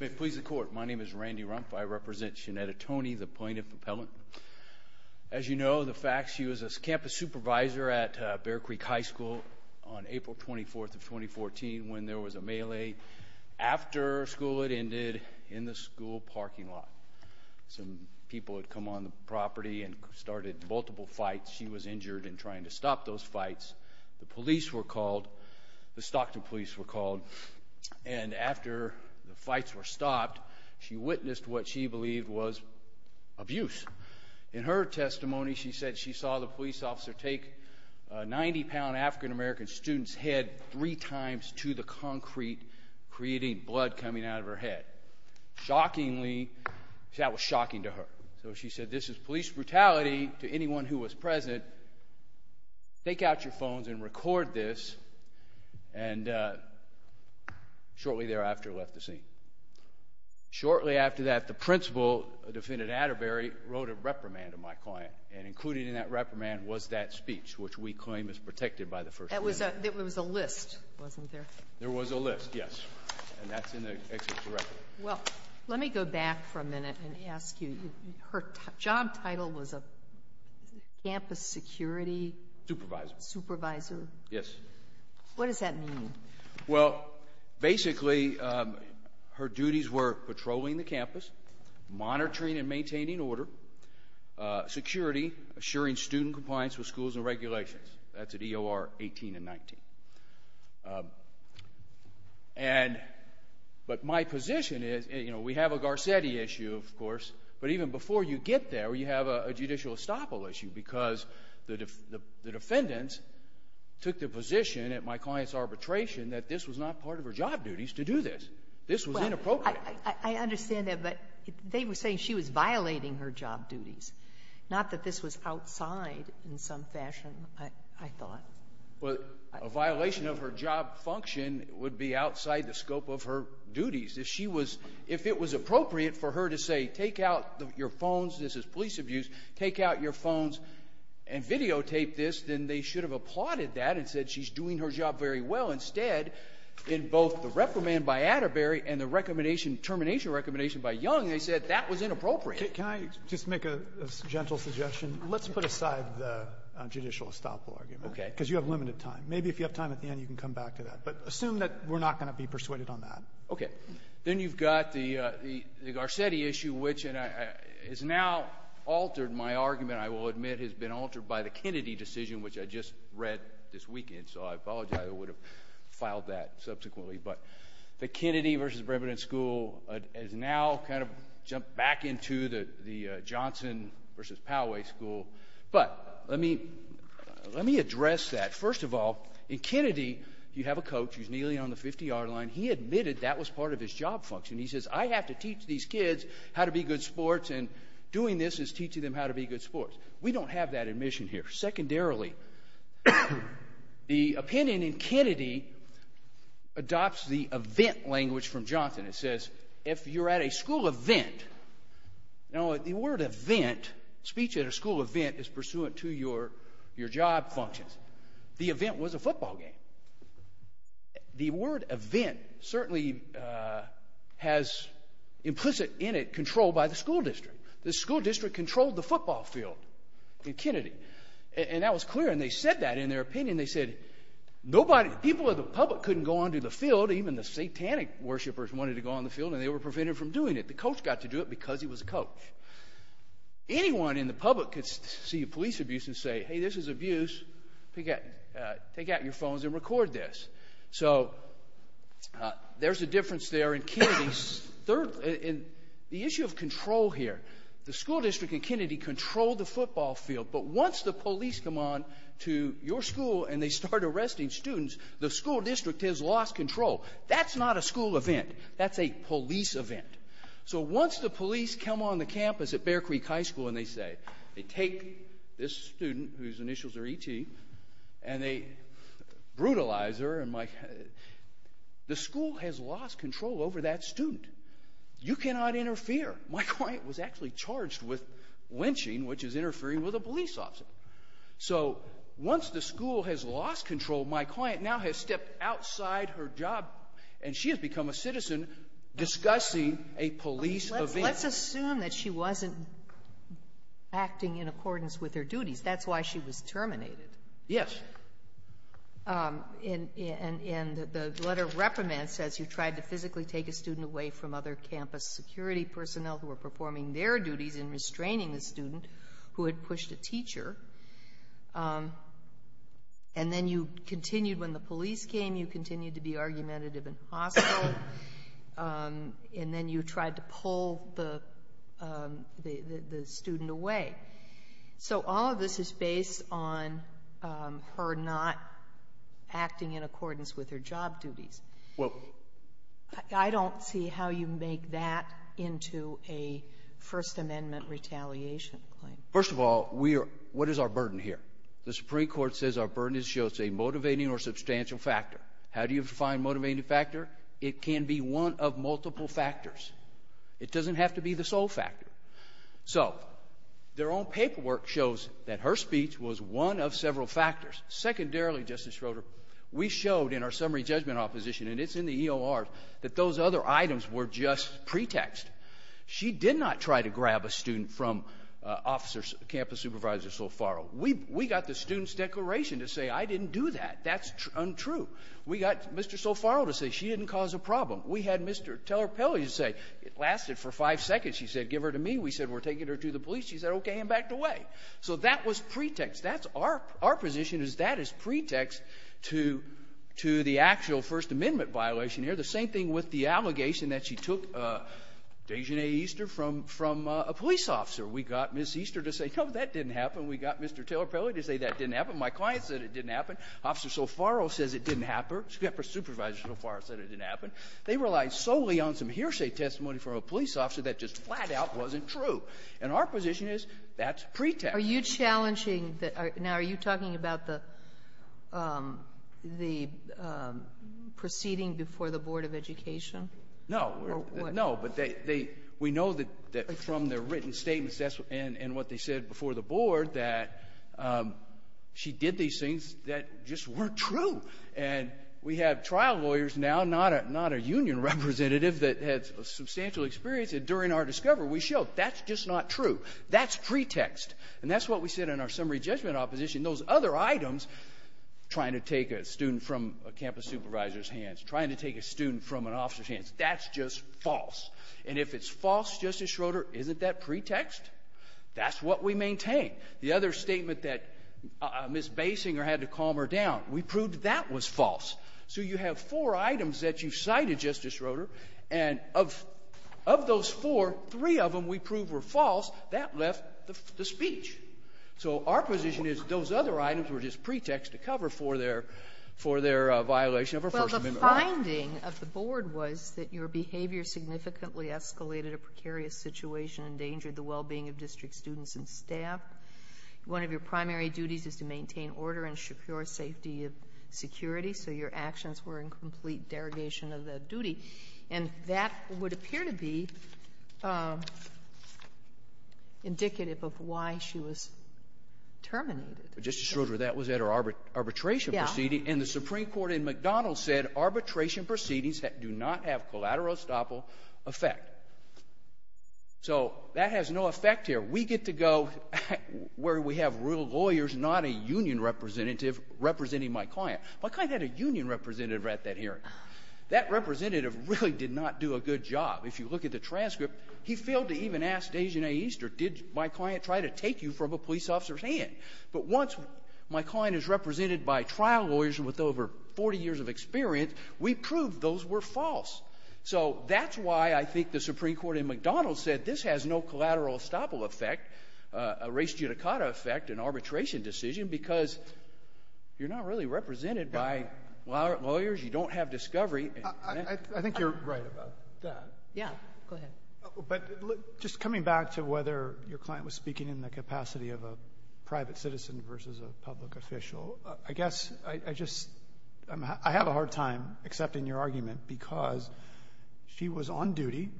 May it please the court, my name is Randy Rumpf. I represent Shenetta Toney, the plaintiff appellant. As you know the fact she was a campus supervisor at Bear Creek High School on April 24th of 2014 when there was a melee after school had ended in the school parking lot. Some people had come on the property and started multiple fights. She was injured in trying to stop those fights. The Stockton police were called and after the fights were stopped she witnessed what she believed was abuse. In her testimony she said she saw the police officer take a 90-pound African-American student's head three times to the concrete creating blood coming out of her head. Shockingly, that was shocking to her, so she said this is police brutality to anyone who was present. Take out your Shortly thereafter left the scene. Shortly after that the principal, defendant Atterbury, wrote a reprimand of my client and included in that reprimand was that speech which we claim is protected by the first amendment. There was a list, wasn't there? There was a list, yes, and that's in the executive record. Let me go back for a minute and ask you, her job title was a campus security supervisor. Yes. What does that mean? Well, basically her duties were patrolling the campus, monitoring and maintaining order, security, assuring student compliance with schools and regulations. That's at EOR 18 and 19. But my position is, you know, we have a Garcetti issue, of course, but even before you get there, we have a judicial estoppel issue, because the defendants took the position at my client's arbitration that this was not part of her job duties to do this. This was inappropriate. Well, I understand that, but they were saying she was violating her job duties, not that this was outside in some fashion, I thought. Well, a violation of her job function would be outside the scope of her duties. If she was, if it was appropriate for her to say, take out your phones, this is police abuse, take out your phones and videotape this, then they should have applauded that and said she's doing her job very well. Instead, in both the reprimand by Atterbury and the recommendation, termination recommendation by Young, they said that was inappropriate. Can I just make a gentle suggestion? Let's put aside the judicial estoppel argument. Okay. Because you have limited time. Maybe if you have time at the end, you can come back to that. But assume that we're not going to be persuaded on that. Okay. Then you've got the Garcetti issue, which is now altered. My argument, I will admit, has been altered by the Kennedy decision, which I just read this weekend, so I apologize. I would have filed that subsequently. But the Kennedy versus Bremen School has now kind of jumped back into the Johnson versus Poway School. But let me address that. First of all, in Kennedy, you have a coach who's nearly on the 50-hour line. He admitted that was part of his job function. He says, I have to teach these kids how to be good sports, and doing this is teaching them how to be good sports. We don't have that admission here. Secondarily, the opinion in Kennedy adopts the event language from Johnson. It says, if you're at a school event, now, the word event, speech at a school event, is pursuant to your job functions. The event was a football game. The word event certainly has implicit in it control by the school district. The school district controlled the football field in Kennedy. And that was clear, and they said that in their opinion. They said, people in the public couldn't go onto the field, even the satanic worshipers wanted to go on the field, and they were prevented from doing it. The coach got to do it because he was a coach. Anyone in the public could see police abuse and say, hey, this is abuse. Take out your phones and record this. So there's a difference there in Kennedy. Third, the issue of control here. The school district in Kennedy controlled the football field, but once the police come on to your school and they start arresting students, the school district has lost control. That's not a school event. That's a police event. So once the police come on the campus at Bear Creek High School and they say, they take this student, whose initials are E.T., and they brutalize her, the school has lost control over that student. You cannot interfere. My client was actually charged with lynching, which is interfering with a police officer. So once the school has lost control, my client now has stepped outside her job, and she has become a citizen discussing a police event. Let's assume that she wasn't acting in accordance with her duties. That's why she was terminated. Yes. And the letter reprimands says you tried to physically take a student away from other campus security personnel who were performing their duties in restraining the student who had pushed a teacher. And then you continued, when the police came, you continued to be argumentative and hostile. And then you tried to pull the student away. So all of this is based on her not acting in accordance with her job duties. Well ---- I don't see how you make that into a First Amendment retaliation claim. First of all, we are — what is our burden here? The Supreme Court says our burden is to show it's a motivating or substantial factor. How do you define motivating factor? It can be one of multiple factors. It doesn't have to be the sole factor. So their own paperwork shows that her speech was one of several factors. Secondarily, Justice Schroeder, we showed in our summary judgment opposition, and it's in the EOR, that those other items were just pretext. She did not try to grab a student from Officer, Campus Supervisor Sofaro. We got the student's declaration to say, I didn't do that. That's untrue. We got Mr. Sofaro to say, she didn't cause a problem. We had Mr. Teller-Pelly to say, it lasted for five seconds. She said, give her to me. We said, we're taking her to the police. She said, okay, and backed away. So that was pretext. That's our — our position is that is pretext to — to the actual First Amendment violation here. The same thing with the allegation that she took Desjardins Easter from — from a police officer. We got Ms. Easter to say, no, that didn't happen. We got Mr. Teller-Pelly to say that didn't happen. My client said it didn't happen. Officer Sofaro says it didn't happen. Supervisor Sofaro said it didn't happen. They relied solely on some hearsay testimony from a police officer that just flat-out wasn't true. And our position is that's pretext. Are you challenging — now, are you talking about the — the proceeding before the Board of Education? No. No. But they — we know that from their written statements and what they said before the board that she did these things that just weren't true. And we have trial lawyers now, not a — not a union representative that had substantial experience. And during our discovery, we showed that's just not true. That's pretext. And that's what we said in our summary judgment opposition. Those other items, trying to take a student from a campus supervisor's hands, trying to take a student from an officer's hands, that's just false. And if it's false, Justice Schroeder, isn't that pretext? That's what we maintain. The other statement that Ms. Basinger had to calm her down, we proved that that was false. So you have four items that you cited, Justice Schroeder, and of — of those four, three of them we proved were false. That left the speech. So our position is those other items were just pretext to cover for their — for their violation of our First Amendment rights. Well, the finding of the board was that your behavior significantly escalated a precarious situation, endangered the well-being of district students and staff. One of your primary duties is to maintain order and secure safety of security. So your actions were in complete derogation of that duty. And that would appear to be indicative of why she was terminated. Justice Schroeder, that was at her arbitration proceeding. Yeah. And the Supreme Court in McDonald said arbitration proceedings that do not have collateral estoppel effect. So that has no effect here. We get to go where we have real lawyers, not a union representative representing my client. My client had a union representative at that hearing. That representative really did not do a good job. If you look at the transcript, he failed to even ask Dejane Easter, did my client try to take you from a police officer's hand? But once my client is represented by trial lawyers with over 40 years of experience, we proved those were false. So that's why I think the Supreme Court in McDonald said this has no collateral estoppel effect, a res judicata effect, an arbitration decision, because you're not really represented by lawyers. You don't have discovery. I think you're right about that. Yeah. Go ahead. But just coming back to whether your client was speaking in the capacity of a private citizen versus a public official, I guess I just I have a hard time accepting your argument because she was on duty,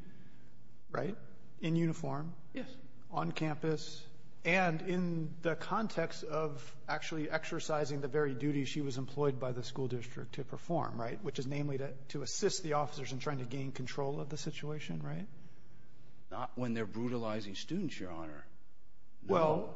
right, in uniform. Yes. On campus and in the context of actually exercising the very duty she was employed by the school district to perform, right, which is namely to to assist the officers in trying to gain control of the situation. Right. Not when they're brutalizing students, Your Honor. Well,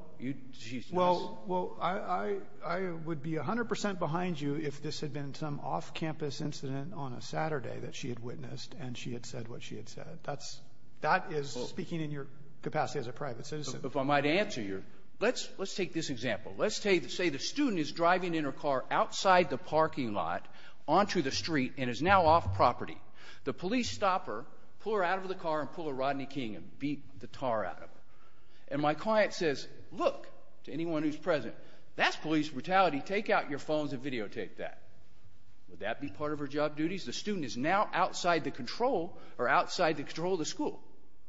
well, well, I, I would be 100 percent behind you if this had been some off campus incident on a Saturday that she had witnessed and she had said what she had said. That's that is speaking in your capacity as a private citizen. If I might answer your let's let's take this example. Let's say the student is driving in her car outside the parking lot onto the street and is now off property. The police stop her, pull her out of the car and pull a Rodney King and beat the tar out of it. And my client says, look to anyone who's present, that's police brutality. Take out your phones and videotape that. Would that be part of her job duties? The student is now outside the control or outside the control of the school.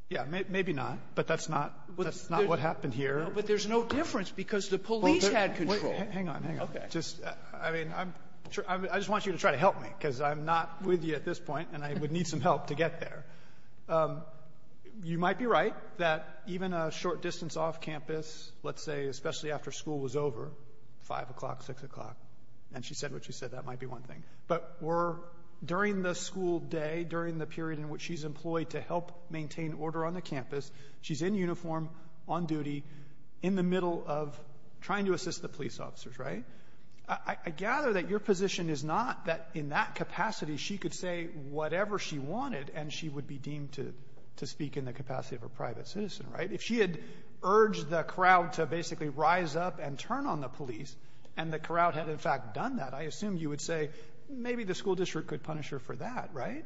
Yeah. Maybe not. But that's not that's not what happened here. But there's no difference because the police had control. Hang on. Hang on. Okay. Just I mean, I'm sure I just want you to try to help me because I'm not with you at this point and I would need some help to get there. You might be right that even a short distance off campus, let's say, especially after school was over, 5 o'clock, 6 o'clock, and she said what she said, that might be one thing. But we're during the school day, during the period in which she's employed to help maintain order on the campus. She's in uniform on duty in the middle of trying to assist the police officers. Right. I gather that your position is not that in that capacity she could say whatever she wanted and she would be deemed to to speak in the capacity of a private citizen. Right. If she had urged the crowd to basically rise up and turn on the police and the crowd had, in fact, done that, I assume you would say maybe the school district could punish her for that, right,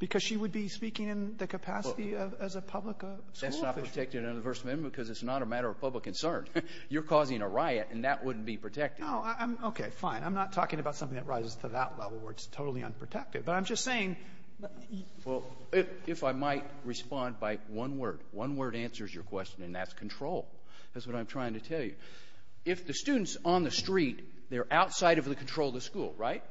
because she would be speaking in the capacity of as a public school officer. That's not protected under the First Amendment because it's not a matter of public concern. You're causing a riot and that wouldn't be protected. No, I'm okay. Fine. I'm not talking about something that rises to that level where it's totally unprotected. But I'm just saying you — Well, if I might respond by one word. One word answers your question, and that's control. That's what I'm trying to tell you. If the student's on the street, they're outside of the control of the school, right?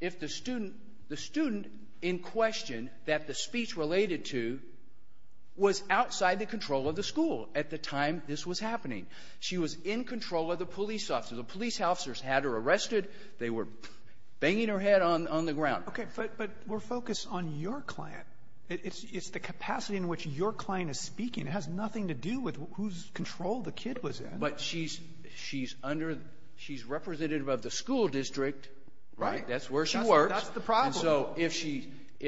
If the student — the student in question that the speech related to was outside the control of the school at the time this was happening, she was in control of the police officer. The police officers had her arrested. They were banging her head on the ground. Okay. But we're focused on your client. It's the capacity in which your client is speaking. It has nothing to do with whose control the kid was in. But she's — she's under — she's representative of the school district, right? That's where she works. That's the problem. So if she —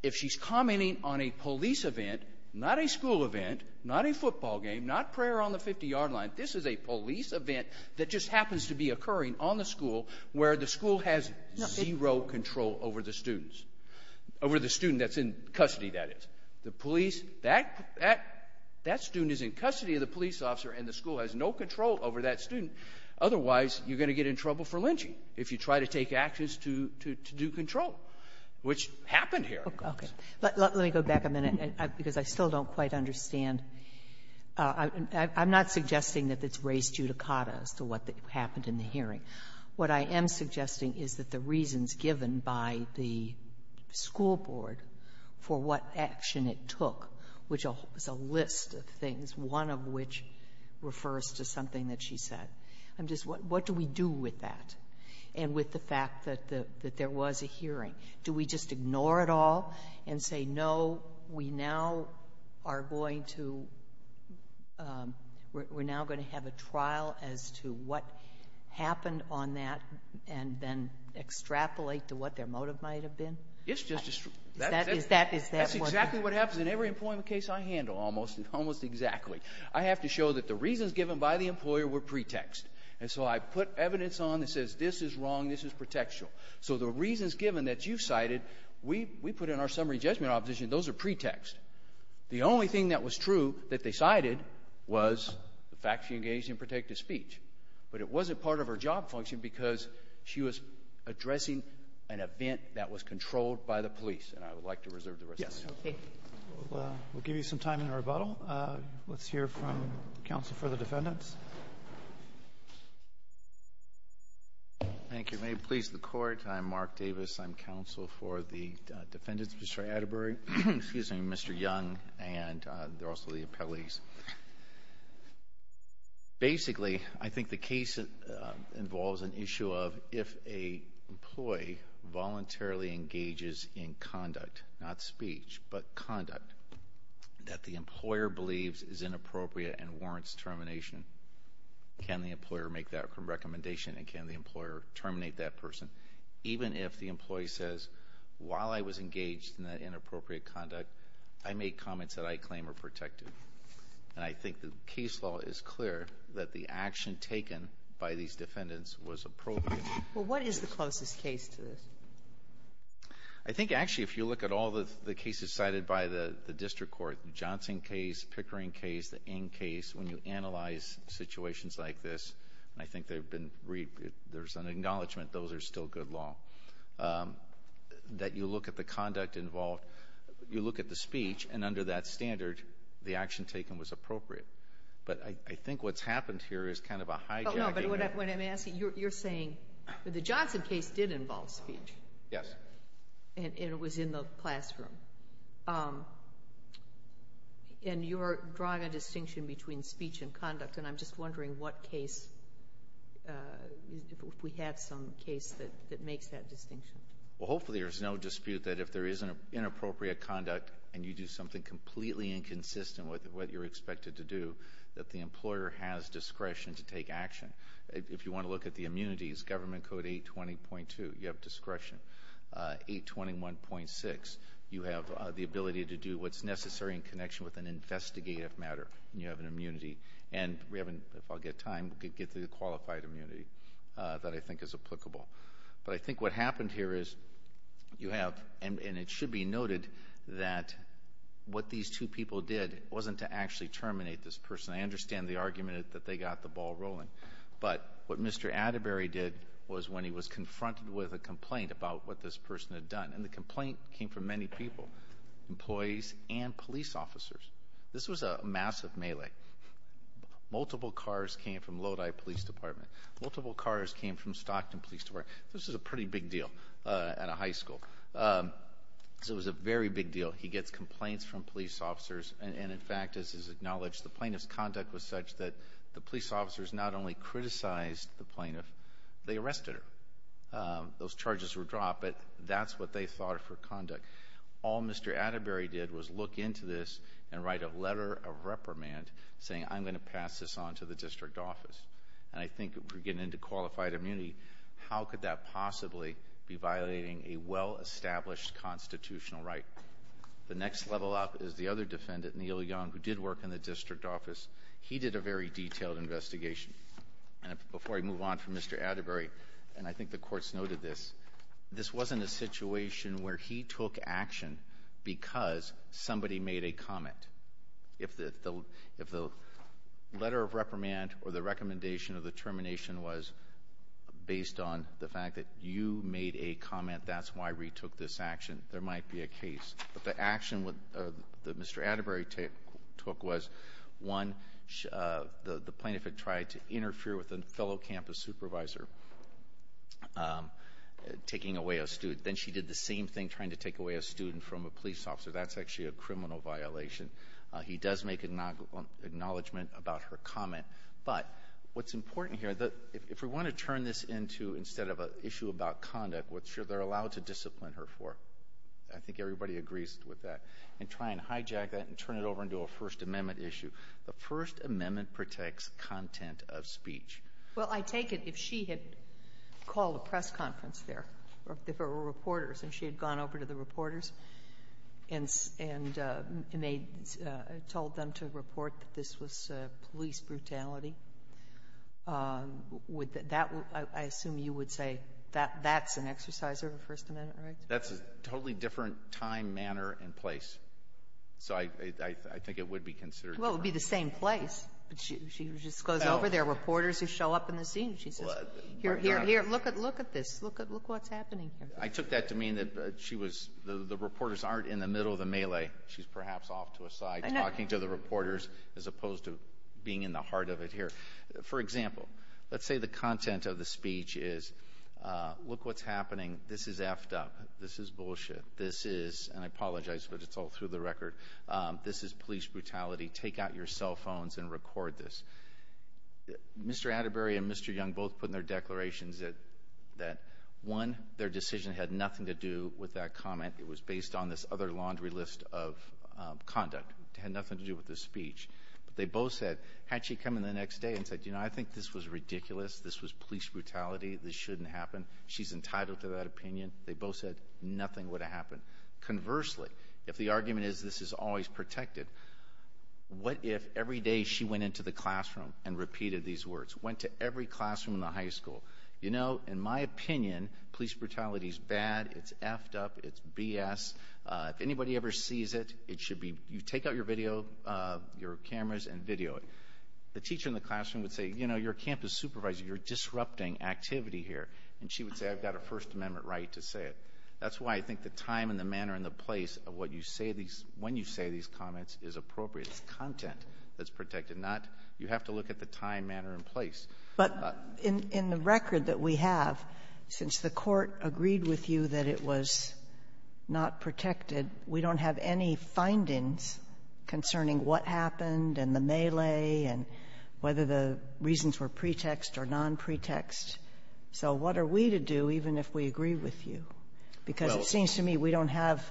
if she's commenting on a police event, not a school event, not a football game, not prayer on the 50-yard line, this is a police event that just happens to be occurring on the school where the school has zero control over the students — over the student that's in custody, that is. The police — that — that student is in custody of the police officer, and the school has no control over that student. Otherwise, you're going to get in trouble for lynching if you try to take actions to — to do control, which happened here. Okay. Let me go back a minute, because I still don't quite understand. I'm not suggesting that it's race judicata as to what happened in the hearing. What I am suggesting is that the reasons given by the school board for what action it took, which is a list of things, one of which refers to something that she said. I'm just — what do we do with that and with the fact that there was a hearing? Do we just ignore it all and say, no, we now are going to — we're now going to have a trial as to what happened on that, and then extrapolate to what their motive might have been? It's just — Is that — is that what — That's exactly what happens in every employment case I handle, almost — almost exactly. I have to show that the reasons given by the employer were pretext. And so I put evidence on that says this is wrong, this is pretextual. So the reasons given that you cited, we — we put in our summary judgment opposition. Those are pretext. The only thing that was true that they cited was the fact she engaged in protective speech. But it wasn't part of her job function because she was addressing an event that was controlled by the police. And I would like to reserve the rest of the time. Yes. Okay. We'll give you some time in rebuttal. Let's hear from counsel for the defendants. Thank you. May it please the Court. I'm Mark Davis. I'm counsel for the defendants, Mr. Atterbury. Excuse me, Mr. Young and also the appellees. Basically, I think the case involves an issue of if a employee voluntarily engages in conduct, not speech, but conduct, that the employer believes is inappropriate and warrants termination, can the employer make that recommendation? And can the employer terminate that person, even if the employee says, while I was not engaged in inappropriate conduct, I made comments that I claim are protective. And I think the case law is clear that the action taken by these defendants was appropriate. Well, what is the closest case to this? I think, actually, if you look at all the cases cited by the district court, the Johnson case, Pickering case, the Ng case, when you analyze situations like this, and I think there's an acknowledgement those are still good law, that you look at the conduct involved, you look at the speech, and under that standard, the action taken was appropriate. But I think what's happened here is kind of a hijacking. No, but what I'm asking, you're saying the Johnson case did involve speech. Yes. And it was in the classroom. And you're drawing a distinction between speech and conduct, and I'm just wondering what case, if we have some case that makes that distinction. Well, hopefully, there's no dispute that if there is an inappropriate conduct, and you do something completely inconsistent with what you're expected to do, that the employer has discretion to take action. If you want to look at the immunities, Government Code 820.2, you have discretion. 821.6, you have the ability to do what's necessary in connection with an investigative matter, and you have an immunity. And we haven't, if I'll get time, get the qualified immunity that I think is applicable. But I think what happened here is you have, and it should be noted, that what these two people did wasn't to actually terminate this person. I understand the argument that they got the ball rolling. But what Mr. Atterbury did was when he was confronted with a complaint about what this person had done, and the complaint came from many people, employees and police officers. This was a massive melee. Multiple cars came from Lodi Police Department. Multiple cars came from Stockton Police Department. This was a pretty big deal at a high school. So it was a very big deal. He gets complaints from police officers, and in fact, as is acknowledged, the plaintiff's conduct was such that the police officers not only criticized the plaintiff, they arrested her. Those charges were dropped, but that's what they thought of her conduct. All Mr. Atterbury did was look into this and write a letter of reprimand saying, I'm going to pass this on to the district office. And I think if we're getting into qualified immunity, how could that possibly be violating a well-established constitutional right? The next level up is the other defendant, Neil Young, who did work in the district office. He did a very detailed investigation. And before I move on from Mr. Atterbury, and I think the courts noted this, this wasn't a situation where he took action because somebody made a comment. If the letter of reprimand or the recommendation of the termination was based on the fact that you made a comment, that's why we took this action, there might be a case. But the action that Mr. Atterbury took was one, the plaintiff had tried to interfere with a fellow campus supervisor taking away a student. Then she did the same thing trying to take away a student from a police officer. That's actually a criminal violation. He does make acknowledgment about her comment. But what's important here, if we want to turn this into, instead of an issue about conduct, what they're allowed to discipline her for. I think everybody agrees with that. And try and hijack that and turn it over into a First Amendment issue. The First Amendment protects content of speech. Well, I take it if she had called a press conference there, or if there were reporters and she had gone over to the reporters and told them to report that this was police brutality, I assume you would say that's an exercise of a First Amendment right? That's a totally different time, manner, and place. So I think it would be considered different. Well, it would be the same place. She just goes over, there are reporters who show up in the scene. She says, here, look at this. Look what's happening here. I took that to mean that the reporters aren't in the middle of the melee. She's perhaps off to a side, talking to the reporters, as opposed to being in the heart of it here. For example, let's say the content of the speech is, look what's happening. This is f'd up. This is bullshit. This is, and I apologize, but it's all through the record. This is police brutality. Take out your cell phones and record this. Mr. Atterbury and Mr. Young both put in their declarations that one, their decision had nothing to do with that comment. It was based on this other laundry list of conduct. It had nothing to do with the speech. But they both said, had she come in the next day and said, I think this was ridiculous. This was police brutality. This shouldn't happen. She's entitled to that opinion. They both said nothing would have happened. Conversely, if the argument is this is always protected, what if every day she went into the classroom and repeated these words? Went to every classroom in the high school. You know, in my opinion, police brutality is bad. It's f'd up. It's BS. If anybody ever sees it, it should be, you take out your video, your cameras and video it. The teacher in the classroom would say, you know, you're a campus supervisor. You're disrupting activity here. And she would say, I've got a First Amendment right to say it. That's why I think the time and the manner and the place of what you say these, when you say these comments is appropriate. It's content that's protected, not, you have to look at the time, manner, and place. But in the record that we have, since the court agreed with you that it was not protected, we don't have any findings concerning what happened and the melee and whether the reasons were pretext or nonpretext. So what are we to do, even if we agree with you? Because it seems to me we don't have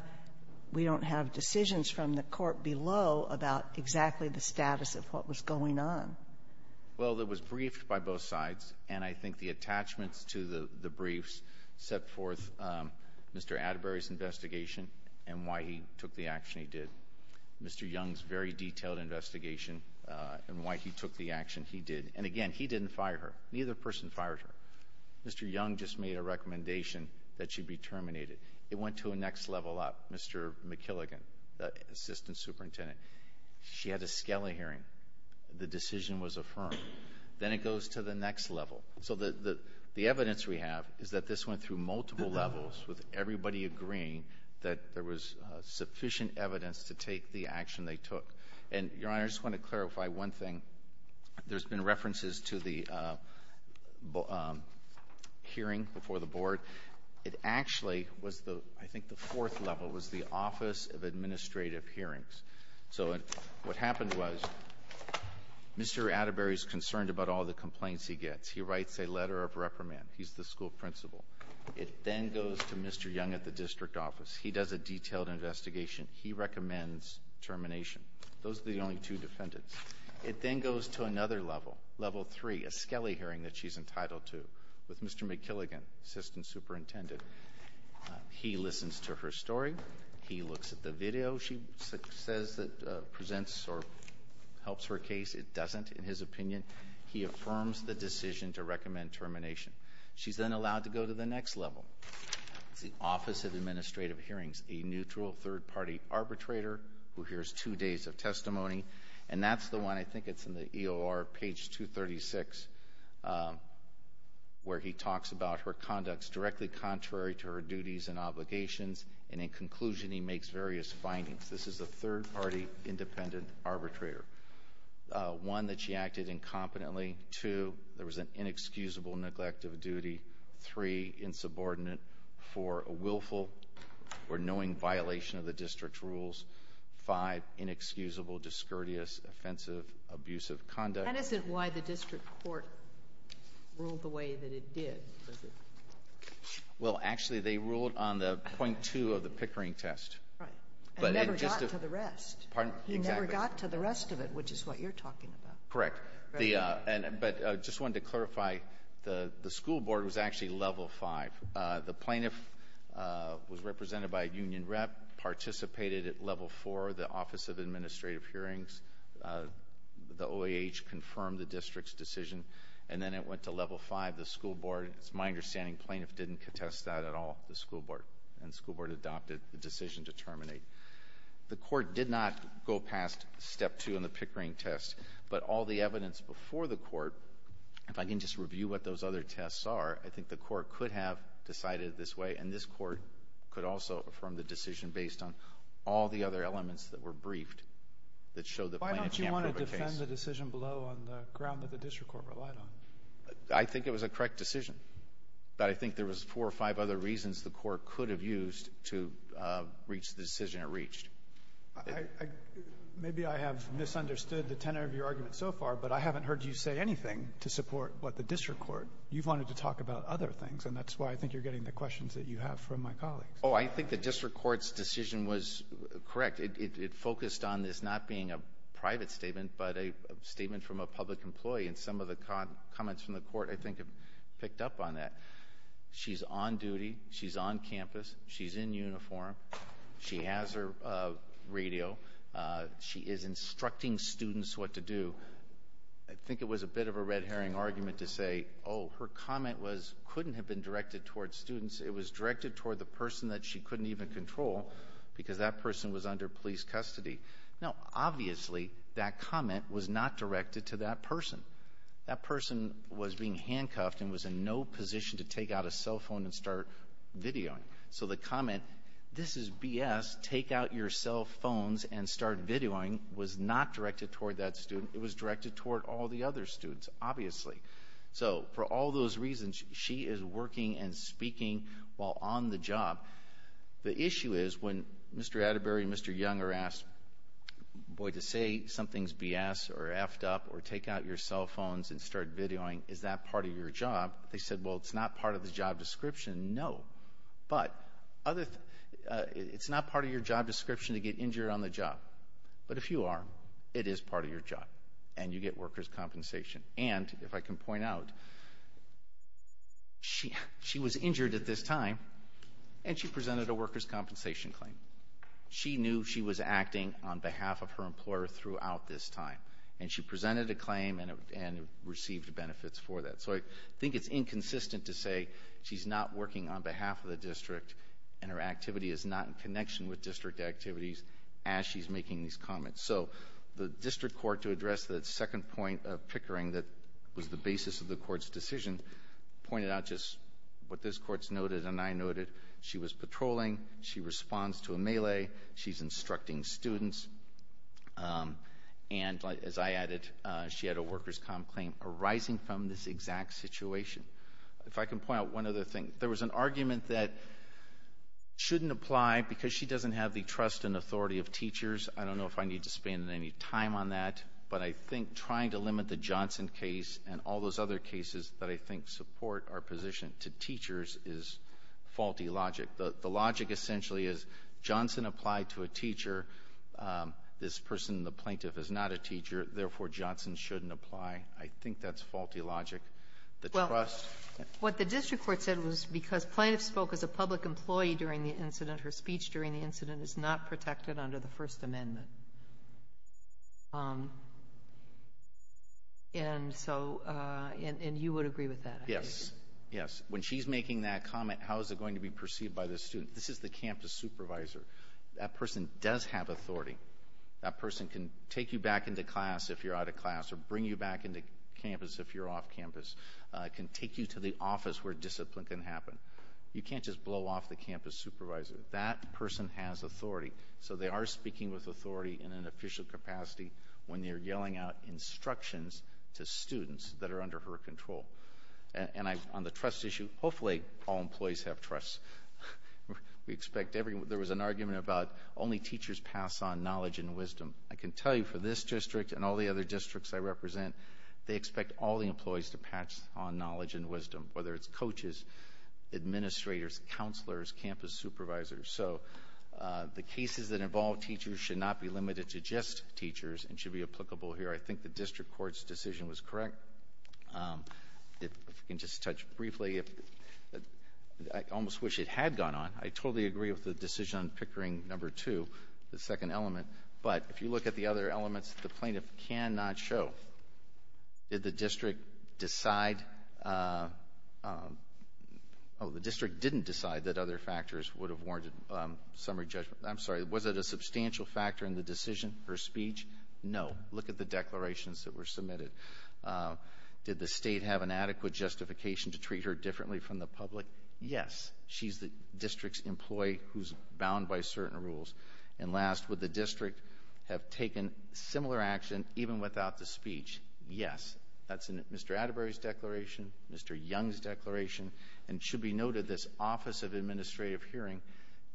decisions from the court below about exactly the status of what was going on. Well, it was briefed by both sides. And I think the attachments to the briefs set forth Mr. Atterbury's investigation and why he took the action he did. Mr. Young's very detailed investigation and why he took the action he did. And again, he didn't fire her. Neither person fired her. Mr. Young just made a recommendation that she be terminated. It went to a next level up, Mr. McKilligan, assistant superintendent. She had a scala hearing. The decision was affirmed. Then it goes to the next level. So the evidence we have is that this went through multiple levels with everybody agreeing that there was sufficient evidence to take the action they took. And, Your Honor, I just want to clarify one thing. There's been references to the hearing before the Board. It actually was, I think, the fourth level was the Office of Administrative Hearings. So what happened was Mr. Atterbury's concerned about all the complaints he gets. He writes a letter of reprimand. He's the school principal. It then goes to Mr. Young at the district office. He does a detailed investigation. He recommends termination. Those are the only two defendants. It then goes to another level, level three, a scala hearing that she's entitled to with Mr. McKilligan, assistant superintendent. He listens to her story. He looks at the video. Whatever video she says that presents or helps her case, it doesn't, in his opinion. He affirms the decision to recommend termination. She's then allowed to go to the next level. It's the Office of Administrative Hearings, a neutral third-party arbitrator who hears two days of testimony. And that's the one, I think it's in the EOR, page 236, where he talks about her conducts directly contrary to her duties and obligations. And in conclusion, he makes various findings. This is a third-party independent arbitrator. One, that she acted incompetently. Two, there was an inexcusable neglect of duty. Three, insubordinate. Four, a willful or knowing violation of the district rules. Five, inexcusable, discourteous, offensive, abusive conduct. That isn't why the district court ruled the way that it did, is it? Well, actually, they ruled on the point two of the Pickering test. Right. And never got to the rest. Pardon? Exactly. He never got to the rest of it, which is what you're talking about. Correct. But I just wanted to clarify, the school board was actually level five. The plaintiff was represented by a union rep, participated at level four, the Office of Administrative Hearings. The OAH confirmed the district's decision. And then it went to level five, the school board. It's my understanding the plaintiff didn't contest that at all, the school board. And the school board adopted the decision to terminate. The court did not go past step two in the Pickering test. But all the evidence before the court, if I can just review what those other tests are, I think the court could have decided this way. And this court could also have affirmed the decision based on all the other elements that were briefed that showed the plaintiff can't prove a case. Why don't you want to defend the decision below on the ground that the district court relied on? I think it was a correct decision. But I think there was four or five other reasons the court could have used to reach the decision it reached. Maybe I have misunderstood the tenor of your argument so far, but I haven't heard you say anything to support what the district court. You've wanted to talk about other things, and that's why I think you're getting the questions that you have from my colleagues. Oh, I think the district court's decision was correct. It focused on this not being a private statement, but a statement from a public employee. And some of the comments from the court, I think, have picked up on that. She's on duty. She's on campus. She's in uniform. She has her radio. She is instructing students what to do. I think it was a bit of a red herring argument to say, oh, her comment couldn't have been directed toward students. It was directed toward the person that she couldn't even control because that person was under police custody. Now, obviously, that comment was not directed to that person. That person was being handcuffed and was in no position to take out a cell phone and start videoing. So the comment, this is BS, take out your cell phones and start videoing, was not directed toward that student. It was directed toward all the other students, obviously. So for all those reasons, she is working and speaking while on the job. The issue is when Mr. Atterbury and Mr. Young are asked, boy, to say something's BS or effed up or take out your cell phones and start videoing, is that part of your job? They said, well, it's not part of the job description, no. But it's not part of your job description to get injured on the job. But if you are, it is part of your job. And you get workers' compensation. And, if I can point out, she was injured at this time and she presented a workers' compensation claim. She knew she was acting on behalf of her employer throughout this time. And she presented a claim and received benefits for that. So I think it's inconsistent to say she's not working on behalf of the district and her activity is not in connection with district activities as she's making these comments. So the district court, to address that second point of pickering that was the basis of the court's decision, pointed out just what this court's noted and I noted. She was patrolling. She responds to a melee. She's instructing students. And, as I added, she had a workers' comp claim arising from this exact situation. If I can point out one other thing. There was an argument that shouldn't apply because she doesn't have the trust and authority of teachers. I don't know if I need to spend any time on that. But I think trying to limit the Johnson case and all those other cases that I think support our position to teachers is faulty logic. The logic essentially is Johnson applied to a teacher. This person, the plaintiff, is not a teacher. Therefore, Johnson shouldn't apply. I think that's faulty logic. The trust — Well, what the district court said was because plaintiff spoke as a public employee during the incident, her speech during the incident is not protected under the First Amendment. And so you would agree with that? Yes. Yes. When she's making that comment, how is it going to be perceived by the student? This is the campus supervisor. That person does have authority. That person can take you back into class if you're out of class or bring you back into campus if you're off campus. Can take you to the office where discipline can happen. You can't just blow off the campus supervisor. That person has authority. So they are speaking with authority in an official capacity when they're yelling out instructions to students that are under her control. And on the trust issue, hopefully all employees have trust. There was an argument about only teachers pass on knowledge and wisdom. I can tell you for this district and all the other districts I represent, they expect all the employees to pass on knowledge and wisdom, whether it's coaches, administrators, counselors, campus supervisors. So the cases that involve teachers should not be limited to just teachers and should be applicable here. I think the district court's decision was correct. If I can just touch briefly, I almost wish it had gone on. I totally agree with the decision on Pickering No. 2, the second element. But if you look at the other elements, the plaintiff cannot show. Did the district decide? Oh, the district didn't decide that other factors would have warranted summary judgment. I'm sorry. Was it a substantial factor in the decision, her speech? No. Look at the declarations that were submitted. Did the state have an adequate justification to treat her differently from the public? Yes. She's the district's employee who's bound by certain rules. And last, would the district have taken similar action even without the speech? Yes. That's in Mr. Atterbury's declaration, Mr. Young's declaration. And it should be noted this Office of Administrative Hearing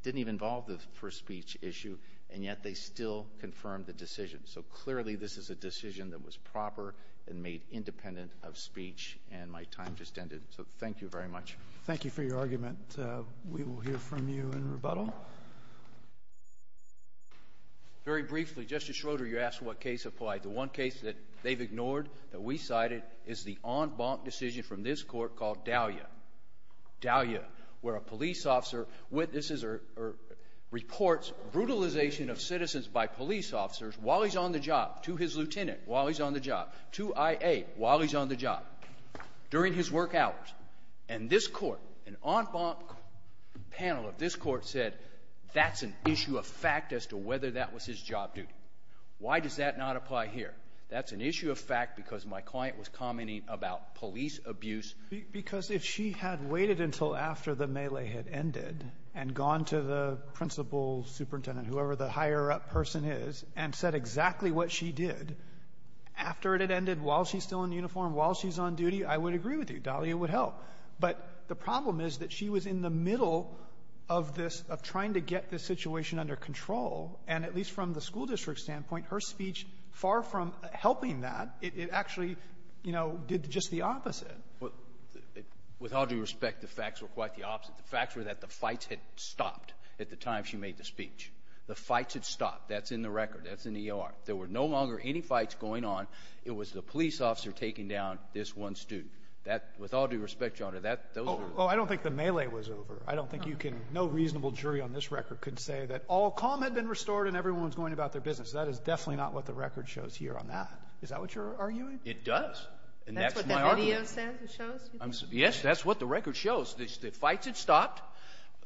didn't even involve the first speech issue, and yet they still confirmed the decision. So clearly this is a decision that was proper and made independent of speech, and my time just ended. So thank you very much. Thank you for your argument. We will hear from you in rebuttal. Very briefly, Justice Schroeder, you asked what case applied. The one case that they've ignored, that we cited, is the en banc decision from this court called Dahlia. Dahlia, where a police officer witnesses or reports brutalization of citizens by police officers while he's on the job, to his lieutenant while he's on the job, to I.A. while he's on the job, during his work hours. And this court, an en banc panel of this court, said that's an issue of fact as to whether that was his job duty. Why does that not apply here? That's an issue of fact because my client was commenting about police abuse. Because if she had waited until after the melee had ended and gone to the principal superintendent, whoever the higher-up person is, and said exactly what she did, after it had ended, while she's still in uniform, while she's on duty, I would agree with you. Dahlia would help. But the problem is that she was in the middle of this, of trying to get this situation under control, and at least from the school district standpoint, her speech, far from helping that, it actually, you know, did just the opposite. Well, with all due respect, the facts were quite the opposite. The facts were that the fights had stopped at the time she made the speech. The fights had stopped. That's in the record. That's in the E.R. There were no longer any fights going on. It was the police officer taking down this one student. That, with all due respect, Your Honor, that those are the facts. Oh, I don't think the melee was over. I don't think you can no reasonable jury on this record could say that all calm had been restored and everyone was going about their business. That is definitely not what the record shows here on that. Is that what you're arguing? It does. And that's my argument. That's what the video says, it shows? Yes, that's what the record shows. The fights had stopped.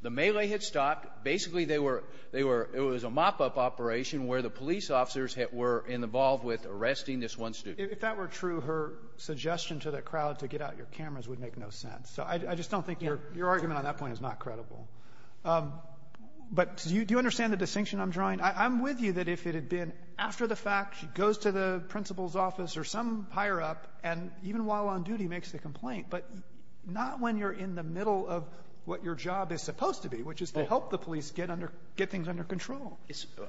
The melee had stopped. Basically, they were they were it was a mop-up operation where the police officers were involved with arresting this one student. If that were true, her suggestion to the crowd to get out your cameras would make no sense. So I just don't think your argument on that point is not credible. But do you understand the distinction I'm drawing? I'm with you that if it had been after the fact, she goes to the principal's office or some higher-up, and even while on duty makes the complaint, but not when you're in the middle of what your job is supposed to be, which is to help the police get under get things under control.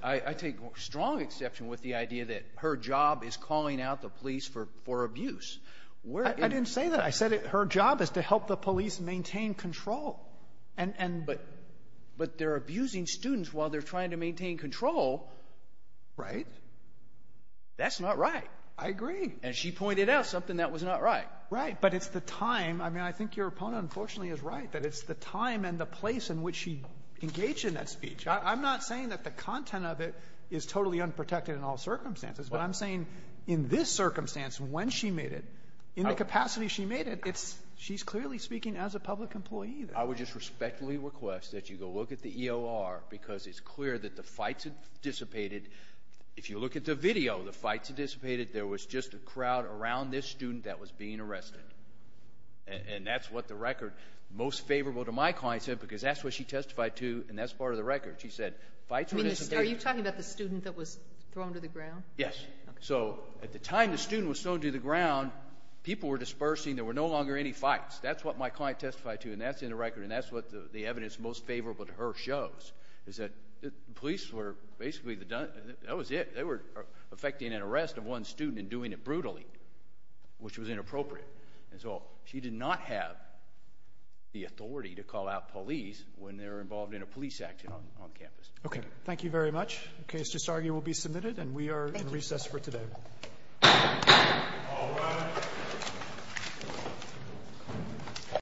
I take strong exception with the idea that her job is calling out the police for abuse. I didn't say that. I said her job is to help the police maintain control and but but they're abusing students while they're trying to maintain control. Right. That's not right. I agree. And she pointed out something that was not right. Right. But it's the time. I mean, I think your opponent, unfortunately, is right that it's the time and the place in which she engaged in that speech. I'm not saying that the content of it is totally unprotected in all circumstances. But I'm saying in this circumstance, when she made it, in the capacity she made it, it's she's clearly speaking as a public employee. I would just respectfully request that you go look at the EOR, because it's clear that the fights had dissipated. If you look at the video, the fights had dissipated. There was just a crowd around this student that was being arrested. And that's what the record most favorable to my client said, because that's what she testified to. And that's part of the record. She said fights were dissipated. Are you talking about the student that was thrown to the ground? Yes. So at the time the student was thrown to the ground, people were dispersing. There were no longer any fights. That's what my client testified to. And that's in the record. And that's what the evidence most favorable to her shows, is that the police were basically, that was it. They were affecting an arrest of one student and doing it brutally, which was inappropriate. And so she did not have the authority to call out police when they were involved in a police action on campus. Okay. Thank you very much. The case to disargue will be submitted, and we are in recess for today. Thank you. All rise.